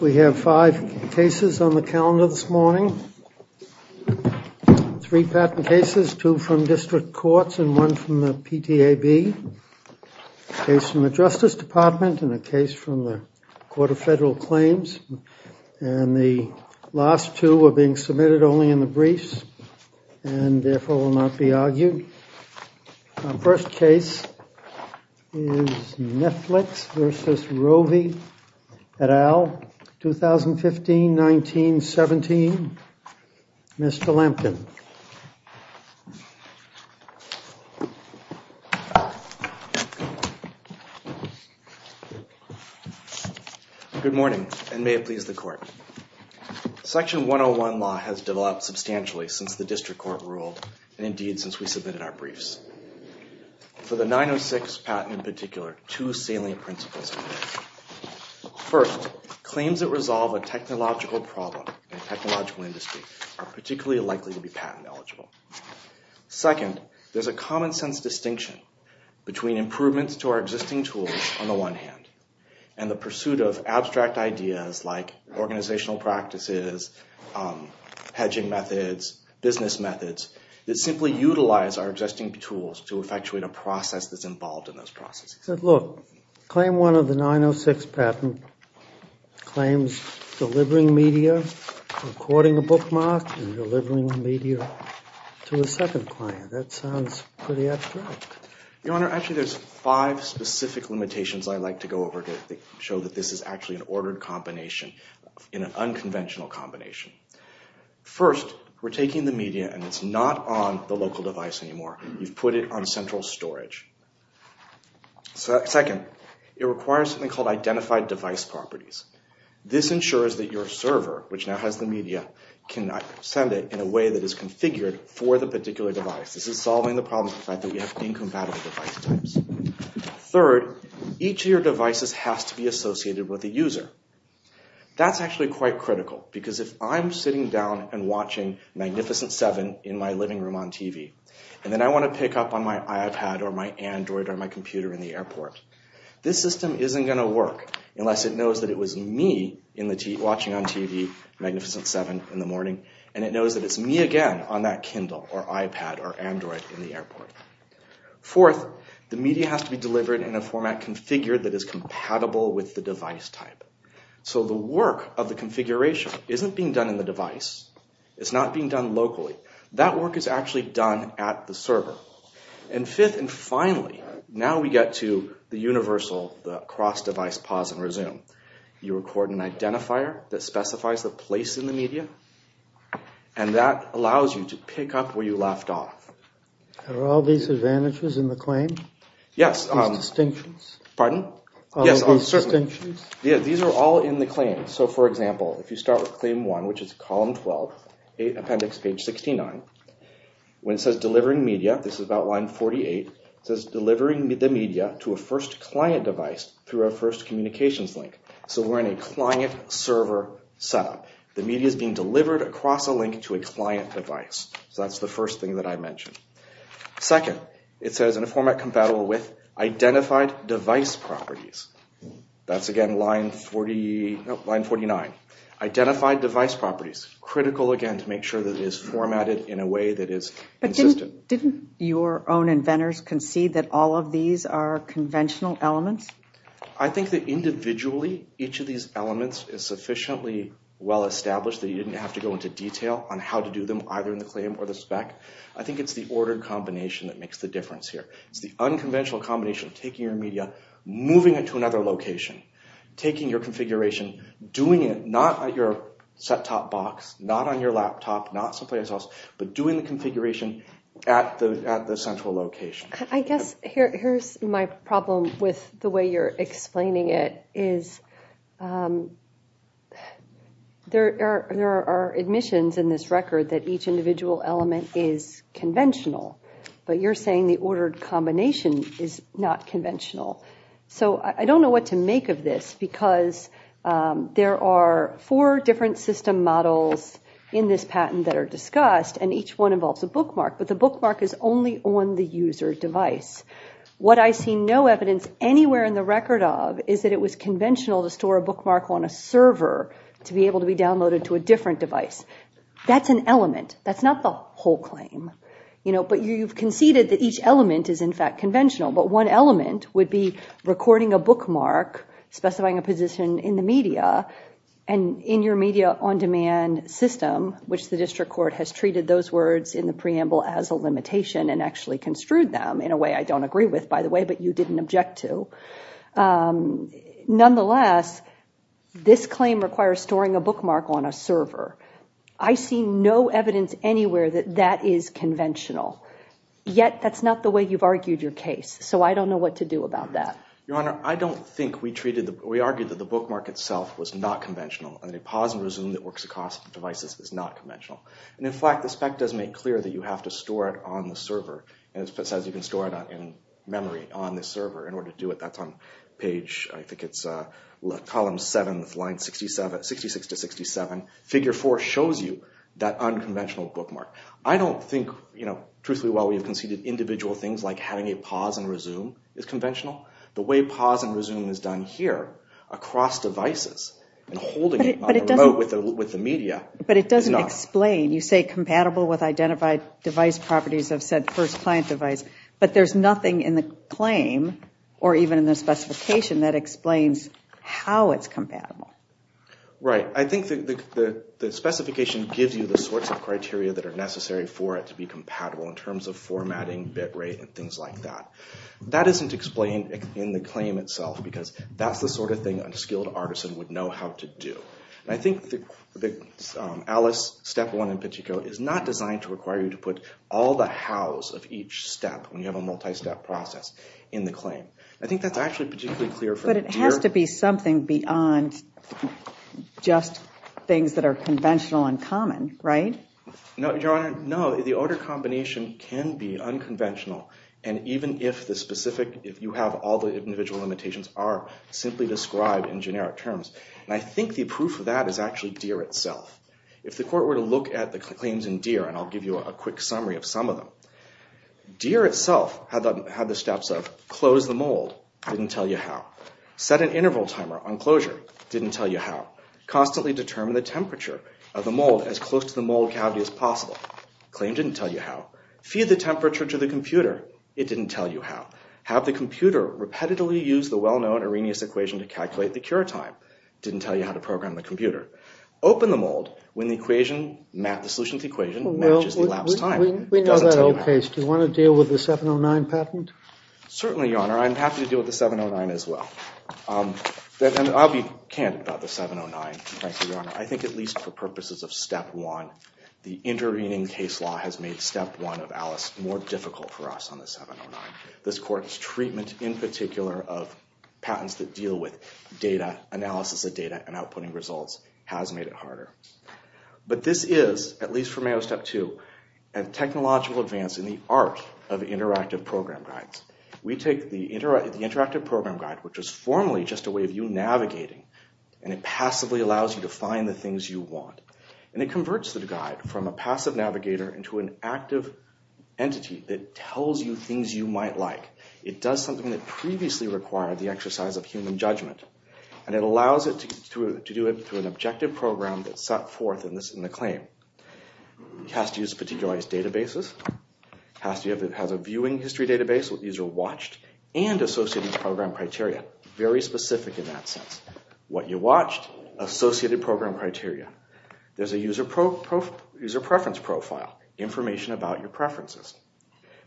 We have five cases on the calendar this morning. Three patent cases, two from district courts and one from the PTAB. A case from the Justice Department and a case from the Court of Federal Claims. And the last two are being submitted only in the briefs and therefore will not be argued. Our first case is Netflix v. Rovi et al., 2015-19-17. Mr. Lampton. Good morning and may it please the Court. Section 101 law has developed substantially since the district court ruled, and indeed since we submitted our briefs. For the 906 patent in particular, two salient principles apply. First, claims that resolve a technological problem in a technological industry are particularly likely to be patent eligible. Second, there's a common sense distinction between improvements to our existing tools, on the one hand, and the pursuit of abstract ideas like organizational practices, hedging methods, business methods, that simply utilize our existing tools to effectuate a process that's involved in those processes. Look, claim one of the 906 patent claims delivering media, recording a bookmark and delivering media to a second client. That sounds pretty abstract. Your Honor, actually there's five specific limitations I'd like to go over to show that this is actually an ordered combination, an unconventional combination. First, we're taking the media and it's not on the local device anymore. You've put it on central storage. Second, it requires something called identified device properties. This ensures that your server, which now has the media, can send it in a way that is configured for the particular device. This is solving the problem of the fact that we have incompatible device types. Third, each of your devices has to be associated with a user. That's actually quite critical because if I'm sitting down and watching Magnificent 7 in my living room on TV and then I want to pick up on my iPad or my Android or my computer in the airport, this system isn't going to work unless it knows that it was me watching on TV Magnificent 7 in the morning and it knows that it's me again on that Kindle or iPad or Android in the airport. Fourth, the media has to be delivered in a format configured that is compatible with the device type. So the work of the configuration isn't being done in the device. It's not being done locally. That work is actually done at the server. Fifth and finally, now we get to the universal cross-device pause and resume. You record an identifier that specifies the place in the media and that allows you to pick up where you left off. Are all these advantages in the claim? Yes. These distinctions? Pardon? All of these distinctions? Yes, these are all in the claim. So for example, if you start with claim 1, which is column 12, appendix page 69, when it says delivering media, this is about line 48, it says delivering the media to a first client device through a first communications link. So we're in a client-server setup. The media is being delivered across a link to a client device. So that's the first thing that I mentioned. Second, it says in a format compatible with identified device properties. That's again line 49. Identified device properties. Critical again to make sure that it is formatted in a way that is consistent. Didn't your own inventors concede that all of these are conventional elements? I think that individually each of these elements is sufficiently well established that you didn't have to go into detail on how to do them either in the claim or the spec. I think it's the order combination that makes the difference here. It's the unconventional combination of taking your media, moving it to another location, taking your configuration, doing it not at your set-top box, not on your laptop, not someplace else, but doing the configuration at the central location. I guess here's my problem with the way you're explaining it. There are admissions in this record that each individual element is conventional, but you're saying the ordered combination is not conventional. So I don't know what to make of this because there are four different system models in this patent that are discussed, and each one involves a bookmark, but the bookmark is only on the user device. What I see no evidence anywhere in the record of is that it was conventional to store a bookmark on a server to be able to be downloaded to a different device. That's an element. That's not the whole claim. But you've conceded that each element is in fact conventional, but one element would be recording a bookmark, specifying a position in the media, and in your media on-demand system, which the district court has treated those words in the preamble as a limitation and actually construed them in a way I don't agree with, by the way, but you didn't object to. Nonetheless, this claim requires storing a bookmark on a server. I see no evidence anywhere that that is conventional, yet that's not the way you've argued your case, so I don't know what to do about that. Your Honor, I don't think we treated the bookmark. We argued that the bookmark itself was not conventional, and a pause and resume that works across devices is not conventional. In fact, the spec does make clear that you have to store it on the server. It says you can store it in memory on the server. In order to do it, that's on page, I think it's column 7, line 66 to 67. Figure 4 shows you that unconventional bookmark. I don't think, truthfully, while we've conceded individual things like having a pause and resume is conventional, the way pause and resume is done here across devices and holding it on the remote with the media is not. But it doesn't explain. You say compatible with identified device properties of said first client device, but there's nothing in the claim or even in the specification that explains how it's compatible. Right. I think the specification gives you the sorts of criteria that are necessary for it to be compatible in terms of formatting, bit rate, and things like that. That isn't explained in the claim itself because that's the sort of thing an unskilled artisan would know how to do. I think the Alice step 1 in particular is not designed to require you to put all the hows of each step when you have a multi-step process in the claim. I think that's actually particularly clear from here. There has to be something beyond just things that are conventional and common, right? No, Your Honor. No, the order combination can be unconventional, and even if you have all the individual limitations are simply described in generic terms. I think the proof of that is actually Deere itself. If the court were to look at the claims in Deere, and I'll give you a quick summary of some of them, Deere itself had the steps of close the mold, didn't tell you how. Set an interval timer on closure, didn't tell you how. Constantly determine the temperature of the mold as close to the mold cavity as possible, claim didn't tell you how. Feed the temperature to the computer, it didn't tell you how. Have the computer repetitively use the well-known Arrhenius equation to calculate the cure time, didn't tell you how to program the computer. Open the mold when the solution to the equation matches the elapsed time, it doesn't tell you how. We know that in your case. Do you want to deal with the 709 patent? Certainly, Your Honor. I'm happy to deal with the 709 as well. I'll be candid about the 709, frankly, Your Honor. I think at least for purposes of step one, the intervening case law has made step one of Alice more difficult for us on the 709. This court's treatment in particular of patents that deal with data, analysis of data, and outputting results has made it harder. But this is, at least for Mayo step two, a technological advance in the art of interactive program guides. We take the interactive program guide, which is formally just a way of you navigating, and it passively allows you to find the things you want. And it converts the guide from a passive navigator into an active entity that tells you things you might like. It does something that previously required the exercise of human judgment, and it allows it to do it through an objective program that's set forth in the claim. It has to use particularized databases. It has a viewing history database with user watched and associated program criteria. Very specific in that sense. What you watched, associated program criteria. There's a user preference profile, information about your preferences.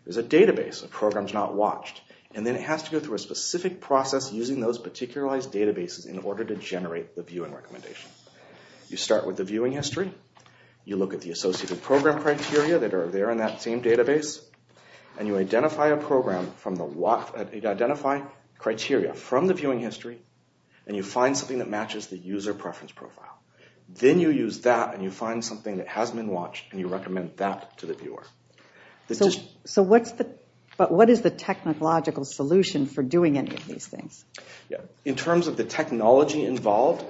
There's a database of programs not watched, and then it has to go through a specific process using those particularized databases in order to generate the view and recommendation. You start with the viewing history. You look at the associated program criteria that are there in that same database. And you identify a program from the, you identify criteria from the viewing history, and you find something that matches the user preference profile. Then you use that, and you find something that has been watched, and you recommend that to the viewer. So what's the, what is the technological solution for doing any of these things? In terms of the technology involved,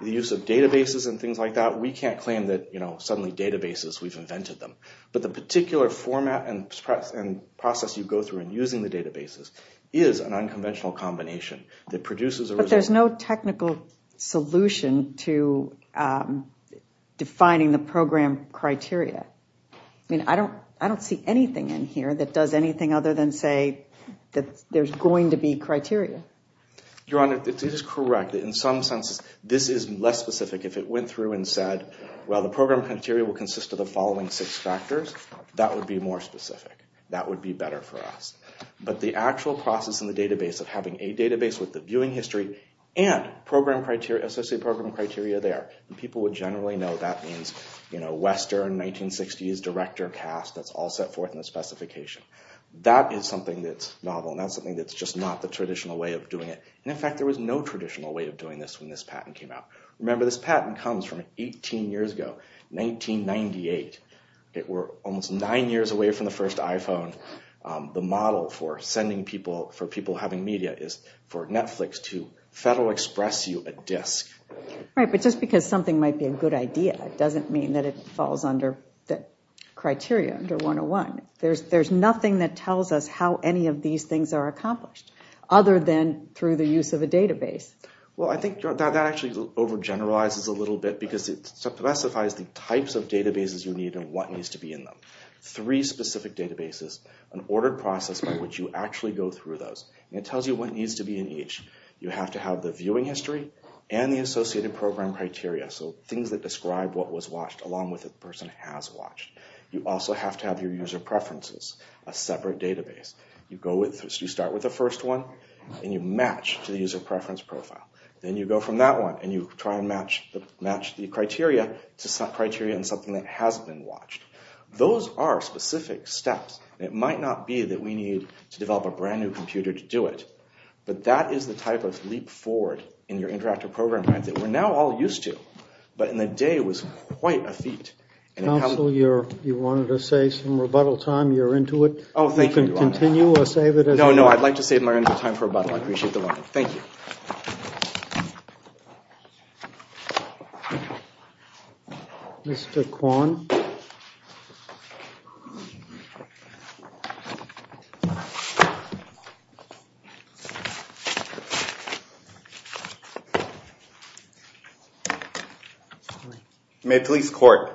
the use of databases and things like that, we can't claim that suddenly databases, we've invented them. But the particular format and process you go through in using the databases is an unconventional combination that produces a result. But there's no technical solution to defining the program criteria. I mean, I don't see anything in here that does anything other than say that there's going to be criteria. Your Honor, it is correct. In some senses, this is less specific. If it went through and said, well, the program criteria will consist of the following six factors, that would be more specific. That would be better for us. But the actual process in the database of having a database with the viewing history and program criteria, associated program criteria there, and people would generally know that means Western, 1960s, director, cast, that's all set forth in the specification. That is something that's novel, and that's something that's just not the traditional way of doing it. And, in fact, there was no traditional way of doing this when this patent came out. Remember, this patent comes from 18 years ago, 1998. We're almost nine years away from the first iPhone. The model for people having media is for Netflix to federal express you a disk. Right, but just because something might be a good idea doesn't mean that it falls under the criteria under 101. There's nothing that tells us how any of these things are accomplished other than through the use of a database. Well, I think that actually overgeneralizes a little bit because it specifies the types of databases you need and what needs to be in them. Three specific databases, an ordered process by which you actually go through those, and it tells you what needs to be in each. You have to have the viewing history and the associated program criteria, so things that describe what was watched along with what the person has watched. You also have to have your user preferences, a separate database. You start with the first one, and you match to the user preference profile. Then you go from that one, and you try and match the criteria to criteria in something that has been watched. Those are specific steps. It might not be that we need to develop a brand new computer to do it, but that is the type of leap forward in your interactive program that we're now all used to. But in the day, it was quite a feat. Counsel, you wanted to say some rebuttal time. You're into it. Oh, thank you. You can continue or save it. No, no, I'd like to save my time for rebuttal. I appreciate the warning. Thank you. Mr. Kwon. Mr. Kwon. May it please the court.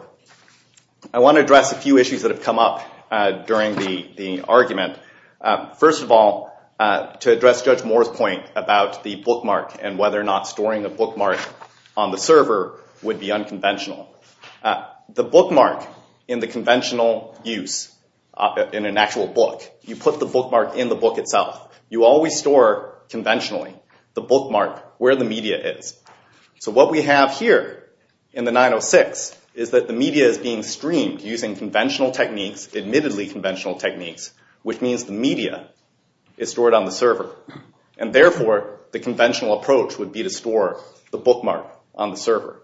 I want to address a few issues that have come up during the argument. First of all, to address Judge Moore's point about the bookmark and whether or not storing a bookmark on the server would be unconventional. The bookmark in the conventional use in an actual book, you put the bookmark in the book itself. You always store conventionally the bookmark where the media is. So what we have here in the 906 is that the media is being streamed using conventional techniques, admittedly conventional techniques, which means the media is stored on the server. Therefore, the conventional approach would be to store the bookmark on the server.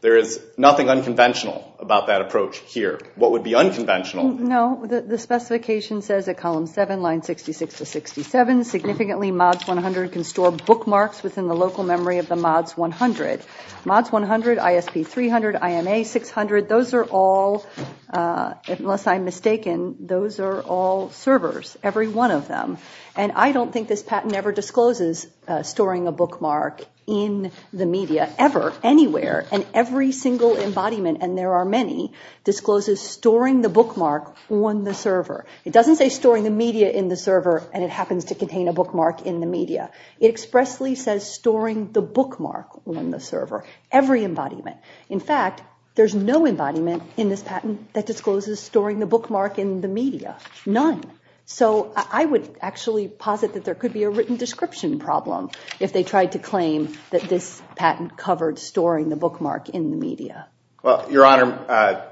There is nothing unconventional about that approach here. What would be unconventional? No, the specification says at column 7, line 66 to 67, significantly MODS 100 can store bookmarks within the local memory of the MODS 100. MODS 100, ISP 300, IMA 600, those are all, unless I'm mistaken, those are all servers, every one of them. And I don't think this patent ever discloses storing a bookmark in the media, ever, anywhere, and every single embodiment, and there are many, discloses storing the bookmark on the server. It doesn't say storing the media in the server and it happens to contain a bookmark in the media. It expressly says storing the bookmark on the server, every embodiment. In fact, there's no embodiment in this patent that discloses storing the bookmark in the media, none. So I would actually posit that there could be a written description problem if they tried to claim that this patent covered storing the bookmark in the media. Well, Your Honor,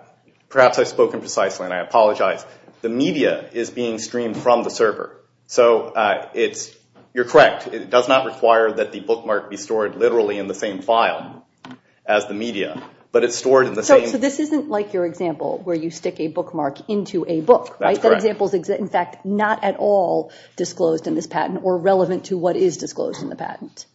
perhaps I've spoken precisely and I apologize. The media is being streamed from the server. So it's, you're correct. It does not require that the bookmark be stored literally in the same file as the media, but it's stored in the same. So this isn't like your example where you stick a bookmark into a book, right? That's correct. That example is, in fact, not at all disclosed in this patent or relevant to what is disclosed in the patent.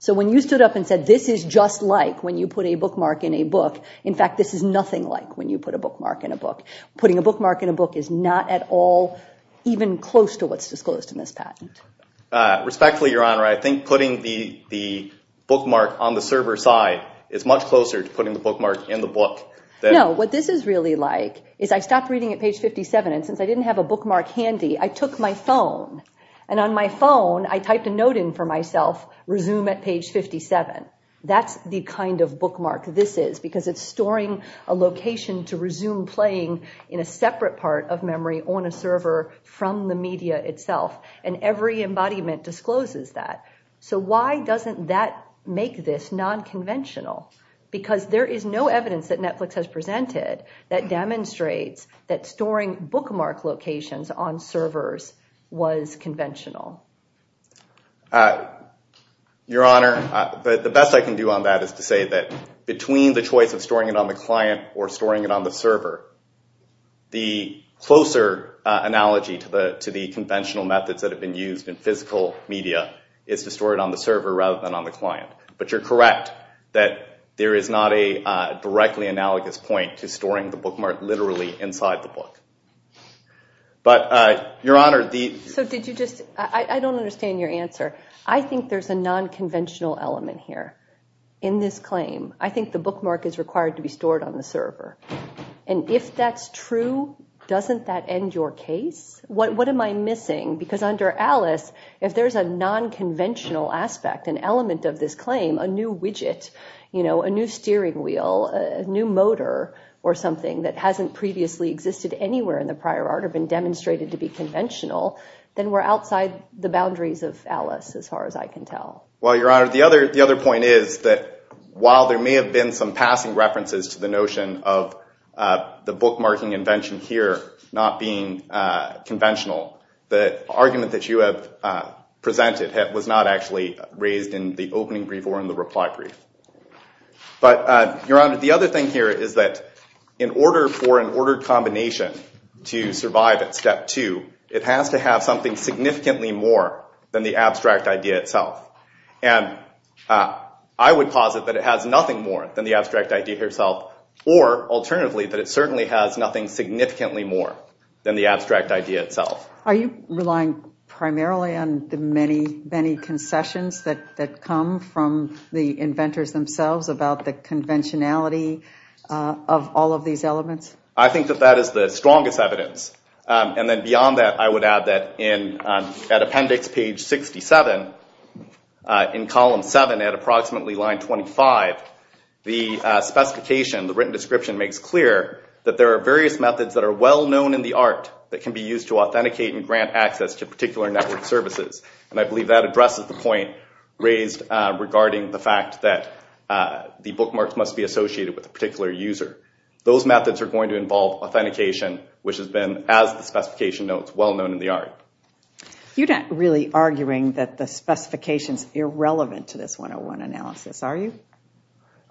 So when you stood up and said this is just like when you put a bookmark in a book, in fact, this is nothing like when you put a bookmark in a book. Putting a bookmark in a book is not at all even close to what's disclosed in this patent. Respectfully, Your Honor, I think putting the bookmark on the server side is much closer to putting the bookmark in the book. No, what this is really like is I stopped reading at page 57 and since I didn't have a bookmark handy, I took my phone. And on my phone, I typed a note in for myself, resume at page 57. That's the kind of bookmark this is, because it's storing a location to resume playing in a separate part of memory on a server from the media itself, and every embodiment discloses that. So why doesn't that make this nonconventional? Because there is no evidence that Netflix has presented that demonstrates that storing bookmark locations on servers was conventional. Your Honor, the best I can do on that is to say that between the choice of storing it on the client or storing it on the server, the closer analogy to the conventional methods that have been used in physical media is to store it on the server rather than on the client. But you're correct that there is not a directly analogous point to storing the bookmark literally inside the book. But Your Honor, the- So did you just- I don't understand your answer. I think there's a nonconventional element here in this claim. I think the bookmark is required to be stored on the server. And if that's true, doesn't that end your case? What am I missing? Because under Alice, if there's a nonconventional aspect, an element of this claim, a new widget, a new steering wheel, a new motor, or something that hasn't previously existed anywhere in the prior art or been demonstrated to be conventional, then we're outside the boundaries of Alice as far as I can tell. Well, Your Honor, the other point is that while there may have been some passing references to the notion of the bookmarking invention here not being conventional, the argument that you have presented was not actually raised in the opening brief or in the reply brief. But, Your Honor, the other thing here is that in order for an ordered combination to survive at step two, it has to have something significantly more than the abstract idea itself. And I would posit that it has nothing more than the abstract idea itself or, alternatively, that it certainly has nothing significantly more than the abstract idea itself. Are you relying primarily on the many, many concessions that come from the inventors themselves about the conventionality of all of these elements? I think that that is the strongest evidence. And then beyond that, I would add that at appendix page 67, in column 7 at approximately line 25, the specification, the written description, makes clear that there are various methods that are well known in the art that can be used to authenticate and grant access to particular network services. And I believe that addresses the point raised regarding the fact that the bookmarks must be associated with a particular user. Those methods are going to involve authentication, which has been, as the specification notes, well known in the art. You're not really arguing that the specification is irrelevant to this 101 analysis, are you?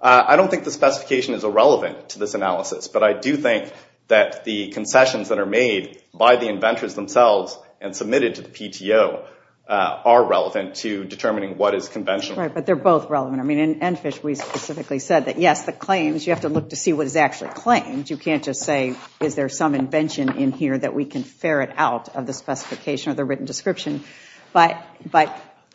I don't think the specification is irrelevant to this analysis, but I do think that the concessions that are made by the inventors themselves and submitted to the PTO are relevant to determining what is conventional. Right, but they're both relevant. I mean, in Enfish we specifically said that, yes, the claims, you have to look to see what is actually claimed. You can't just say, is there some invention in here that we can ferret out of the specification or the written description. But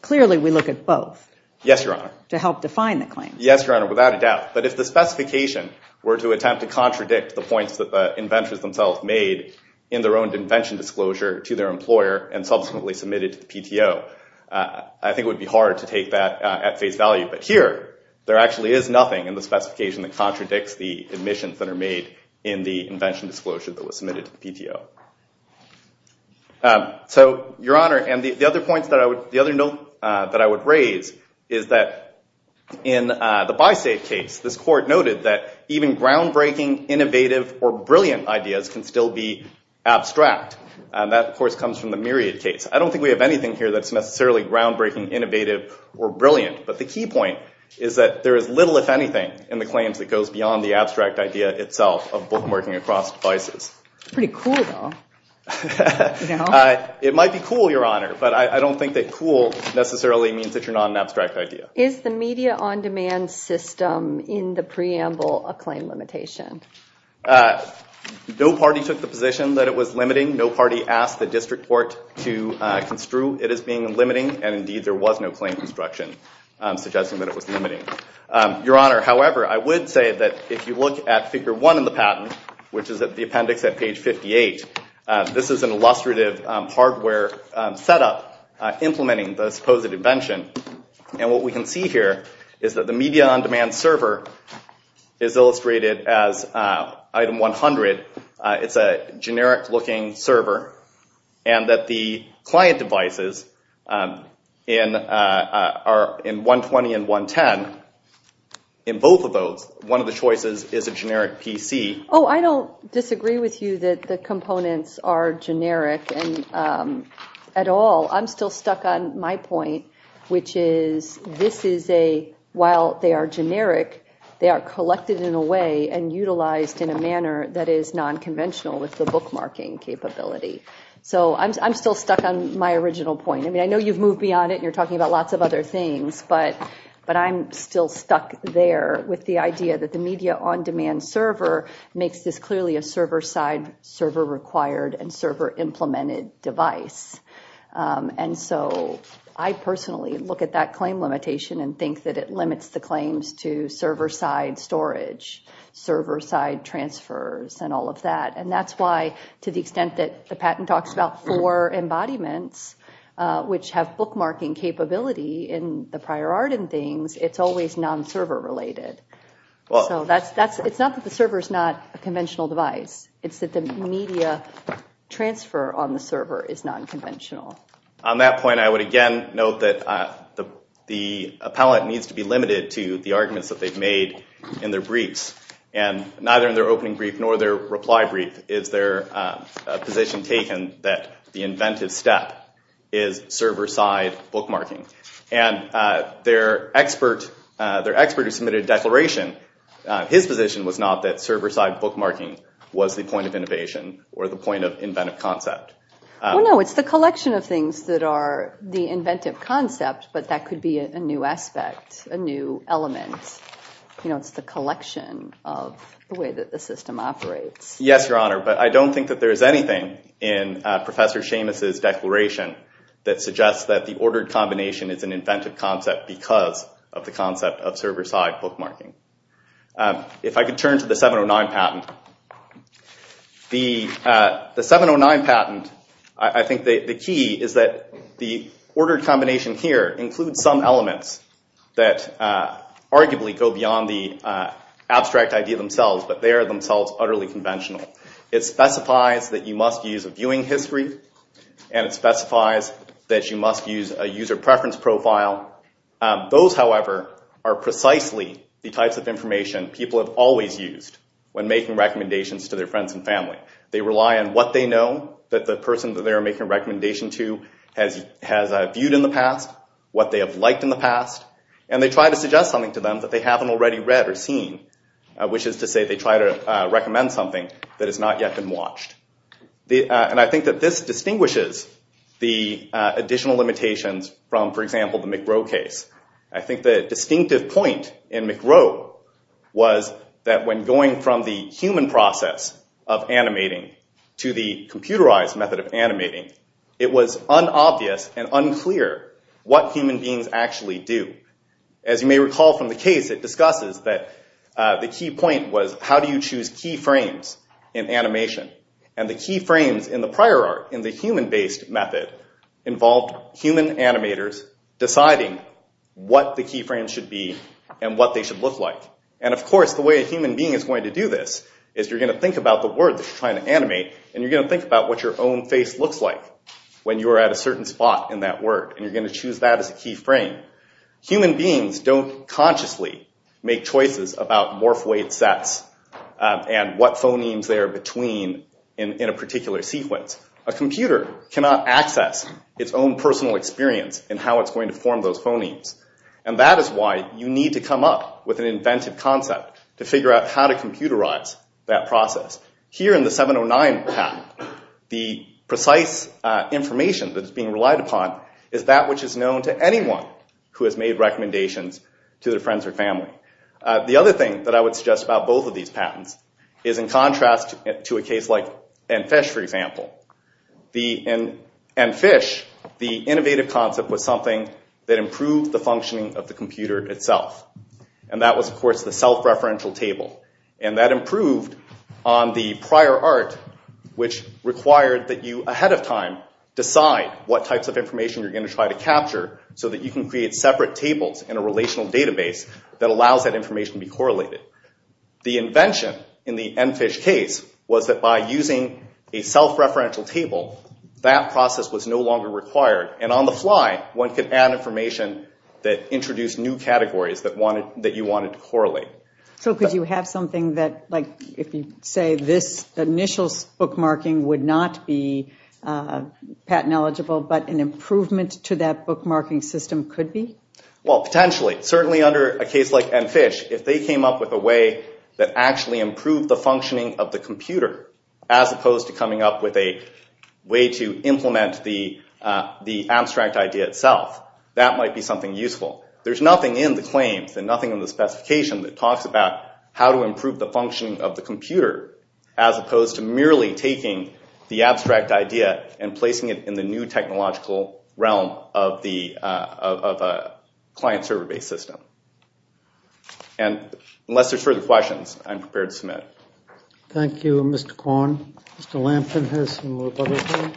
clearly we look at both. Yes, Your Honor. To help define the claims. Yes, Your Honor, without a doubt. But if the specification were to attempt to contradict the points that the inventors themselves made in their own invention disclosure to their employer and subsequently submitted to the PTO, I think it would be hard to take that at face value. But here, there actually is nothing in the specification that contradicts the admissions that are made in the invention disclosure that was submitted to the PTO. So, Your Honor, and the other note that I would raise is that in the BiSafe case, this court noted that even groundbreaking, innovative, or brilliant ideas can still be abstract. That, of course, comes from the Myriad case. I don't think we have anything here that's necessarily groundbreaking, innovative, or brilliant. But the key point is that there is little, if anything, in the claims that goes beyond the abstract idea itself of bookmarking across devices. It's pretty cool, though. It might be cool, Your Honor, but I don't think that cool necessarily means that you're not an abstract idea. Is the media-on-demand system in the preamble a claim limitation? No party took the position that it was limiting. No party asked the district court to construe it as being limiting, and, indeed, there was no claim construction suggesting that it was limiting. Your Honor, however, I would say that if you look at Figure 1 in the patent, which is at the appendix at page 58, this is an illustrative hardware setup implementing the supposed invention. What we can see here is that the media-on-demand server is illustrated as Item 100. It's a generic-looking server, and that the client devices are in 120 and 110. In both of those, one of the choices is a generic PC. Oh, I don't disagree with you that the components are generic at all. I'm still stuck on my point, which is this is a, while they are generic, they are collected in a way and utilized in a manner that is nonconventional with the bookmarking capability. So I'm still stuck on my original point. I mean, I know you've moved beyond it and you're talking about lots of other things, but I'm still stuck there with the idea that the media-on-demand server makes this clearly a server-side, server-required, and server-implemented device. And so I personally look at that claim limitation and think that it limits the claims to server-side storage, server-side transfers, and all of that. And that's why, to the extent that the patent talks about four embodiments, which have bookmarking capability in the prior art and things, it's always non-server related. So it's not that the server is not a conventional device. It's that the media transfer on the server is nonconventional. On that point, I would again note that the appellant needs to be limited to the arguments that they've made in their briefs, and neither in their opening brief nor their reply brief is there a position taken that the inventive step is server-side bookmarking. And their expert who submitted a declaration, his position was not that server-side bookmarking was the point of innovation or the point of inventive concept. Well, no, it's the collection of things that are the inventive concept, but that could be a new aspect, a new element. It's the collection of the way that the system operates. Yes, Your Honor, but I don't think that there is anything in Professor Seamus' declaration that suggests that the ordered combination is an inventive concept because of the concept of server-side bookmarking. If I could turn to the 709 patent. The 709 patent, I think the key is that the ordered combination here includes some elements that arguably go beyond the abstract idea themselves, but they are themselves utterly conventional. It specifies that you must use a viewing history, and it specifies that you must use a user preference profile. Those, however, are precisely the types of information people have always used when making recommendations to their friends and family. They rely on what they know that the person that they are making a recommendation to has viewed in the past, what they have liked in the past, and they try to suggest something to them that they haven't already read or seen, which is to say they try to recommend something that has not yet been watched. And I think that this distinguishes the additional limitations from, for example, the McGrow case. I think the distinctive point in McGrow was that when going from the human process of animating to the computerized method of animating, it was unobvious and unclear what human beings actually do. As you may recall from the case, it discusses that the key point was, how do you choose key frames in animation? And the key frames in the prior art, in the human-based method, involved human animators deciding what the key frames should be and what they should look like. And, of course, the way a human being is going to do this is you're going to think about the word that you're trying to animate, and you're going to think about what your own face looks like when you are at a certain spot in that word, and you're going to choose that as a key frame. Human beings don't consciously make choices about morphoid sets and what phonemes they are between in a particular sequence. A computer cannot access its own personal experience in how it's going to form those phonemes. And that is why you need to come up with an inventive concept to figure out how to computerize that process. Here in the 709 path, the precise information that is being relied upon is that which is known to anyone who has made recommendations to their friends or family. The other thing that I would suggest about both of these patents is in contrast to a case like EnFish, for example. In EnFish, the innovative concept was something that improved the functioning of the computer itself. And that was, of course, the self-referential table. And that improved on the prior art, which required that you, ahead of time, decide what types of information you're going to try to capture so that you can create separate tables in a relational database that allows that information to be correlated. The invention in the EnFish case was that by using a self-referential table, that process was no longer required. And on the fly, one could add information that introduced new categories that you wanted to correlate. So could you have something that, like, if you say, this initial bookmarking would not be patent eligible, but an improvement to that bookmarking system could be? Well, potentially. Certainly under a case like EnFish, if they came up with a way that actually improved the functioning of the computer, as opposed to coming up with a way to implement the abstract idea itself, that might be something useful. There's nothing in the claims and nothing in the specification that talks about how to improve the functioning of the computer, as opposed to merely taking the abstract idea and placing it in the new technological realm of a client-server-based system. And unless there's further questions, I'm prepared to submit. Thank you, Mr. Kwon. Mr. Lampton has some more questions.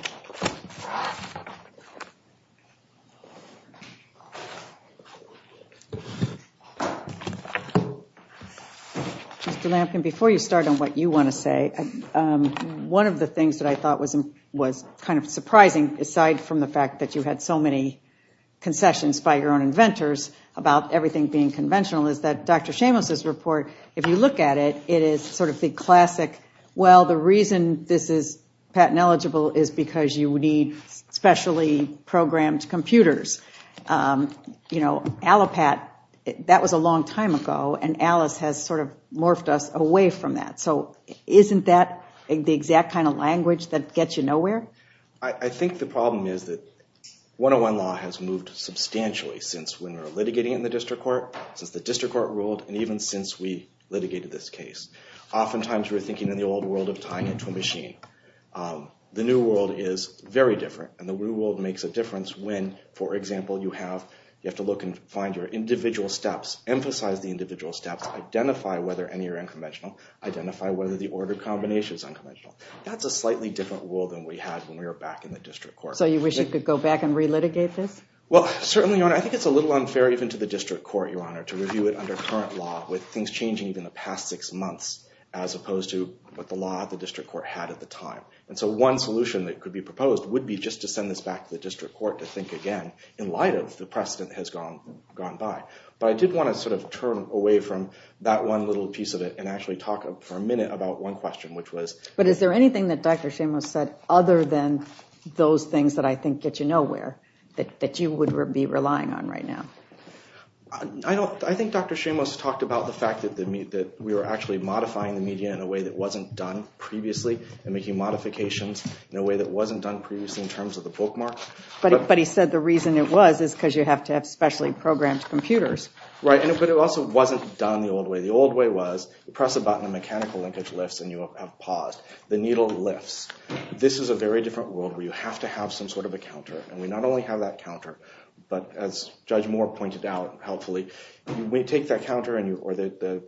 Mr. Lampton, before you start on what you want to say, one of the things that I thought was kind of surprising, aside from the fact that you had so many concessions by your own inventors about everything being conventional, is that Dr. Shamos' report, if you look at it, it is sort of the classic, well, the reason this is patent eligible is because you need specially programmed computers. You know, Allopat, that was a long time ago, and Alice has sort of morphed us away from that. So isn't that the exact kind of language that gets you nowhere? I think the problem is that 101 law has moved substantially since when we were litigating in the district court, since the district court ruled, and even since we litigated this case. Oftentimes we're thinking in the old world of tying it to a machine. The new world is very different, and the new world makes a difference when, for example, you have to look and find your individual steps, emphasize the individual steps, identify whether any are unconventional, identify whether the order combination is unconventional. That's a slightly different world than we had when we were back in the district court. So you wish you could go back and re-litigate this? Well, certainly, Your Honor. I think it's a little unfair even to the district court, Your Honor, to review it under current law with things changing even the past six months as opposed to what the law at the district court had at the time. And so one solution that could be proposed would be just to send this back to the district court to think again in light of the precedent that has gone by. But I did want to sort of turn away from that one little piece of it and actually talk for a minute about one question, which was— But is there anything that Dr. Shamos said other than those things that I think get you nowhere that you would be relying on right now? I think Dr. Shamos talked about the fact that we were actually modifying the media in a way that wasn't done previously and making modifications in a way that wasn't done previously in terms of the bookmark. But he said the reason it was is because you have to have specially programmed computers. Right, but it also wasn't done the old way. The old way was you press a button, the mechanical linkage lifts, and you have paused. The needle lifts. This is a very different world where you have to have some sort of a counter, and we not only have that counter, but as Judge Moore pointed out helpfully, we take that counter or the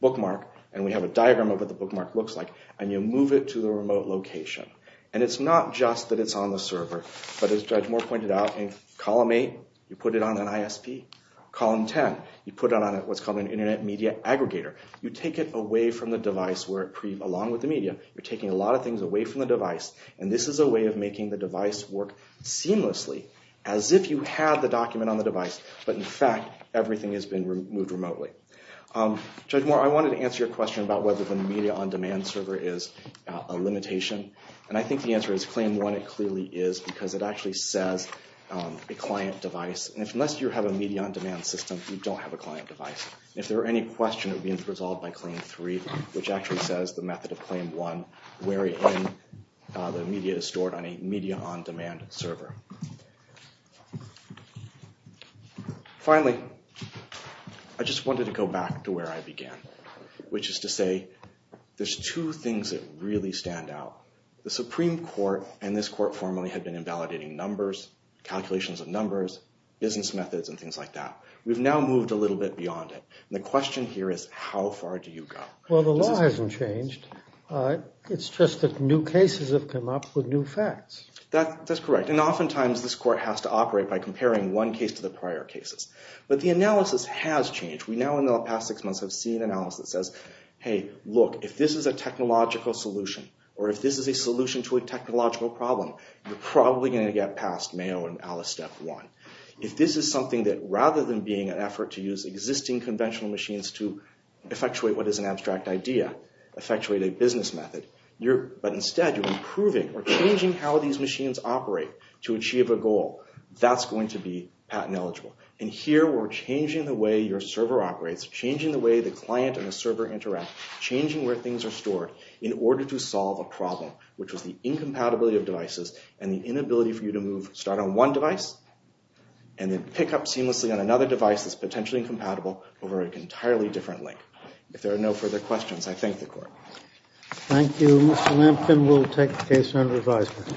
bookmark, and we have a diagram of what the bookmark looks like, and you move it to the remote location. And it's not just that it's on the server, but as Judge Moore pointed out, in column 8, you put it on an ISP. Column 10, you put it on what's called an internet media aggregator. You take it away from the device along with the media. You're taking a lot of things away from the device, and this is a way of making the device work seamlessly as if you had the document on the device, but in fact everything has been removed remotely. Judge Moore, I wanted to answer your question about whether the media on demand server is a limitation, and I think the answer is Claim 1 it clearly is because it actually says a client device. Unless you have a media on demand system, you don't have a client device. If there were any question, it would be resolved by Claim 3, which actually says the method of Claim 1 wherein the media is stored on a media on demand server. Finally, I just wanted to go back to where I began, which is to say there's two things that really stand out. The Supreme Court and this court formally had been invalidating numbers, calculations of numbers, business methods, and things like that. We've now moved a little bit beyond it. The question here is how far do you go? Well, the law hasn't changed. It's just that new cases have come up with new facts. That's correct. Oftentimes, this court has to operate by comparing one case to the prior cases, but the analysis has changed. We now in the past six months have seen analysis that says, hey, look, if this is a technological solution or if this is a solution to a technological problem, you're probably going to get past Mayo and Alice Step 1. If this is something that rather than being an effort to use existing conventional machines to effectuate what is an abstract idea, effectuate a business method, but instead you're improving or changing how these machines operate to achieve a goal, that's going to be patent eligible. And here we're changing the way your server operates, changing the way the client and the server interact, changing where things are stored in order to solve a problem, which was the incompatibility of devices and the inability for you to move, start on one device and then pick up seamlessly on another device that's potentially incompatible over an entirely different link. If there are no further questions, I thank the court. Thank you. Mr. Lamkin will take the case under advisement.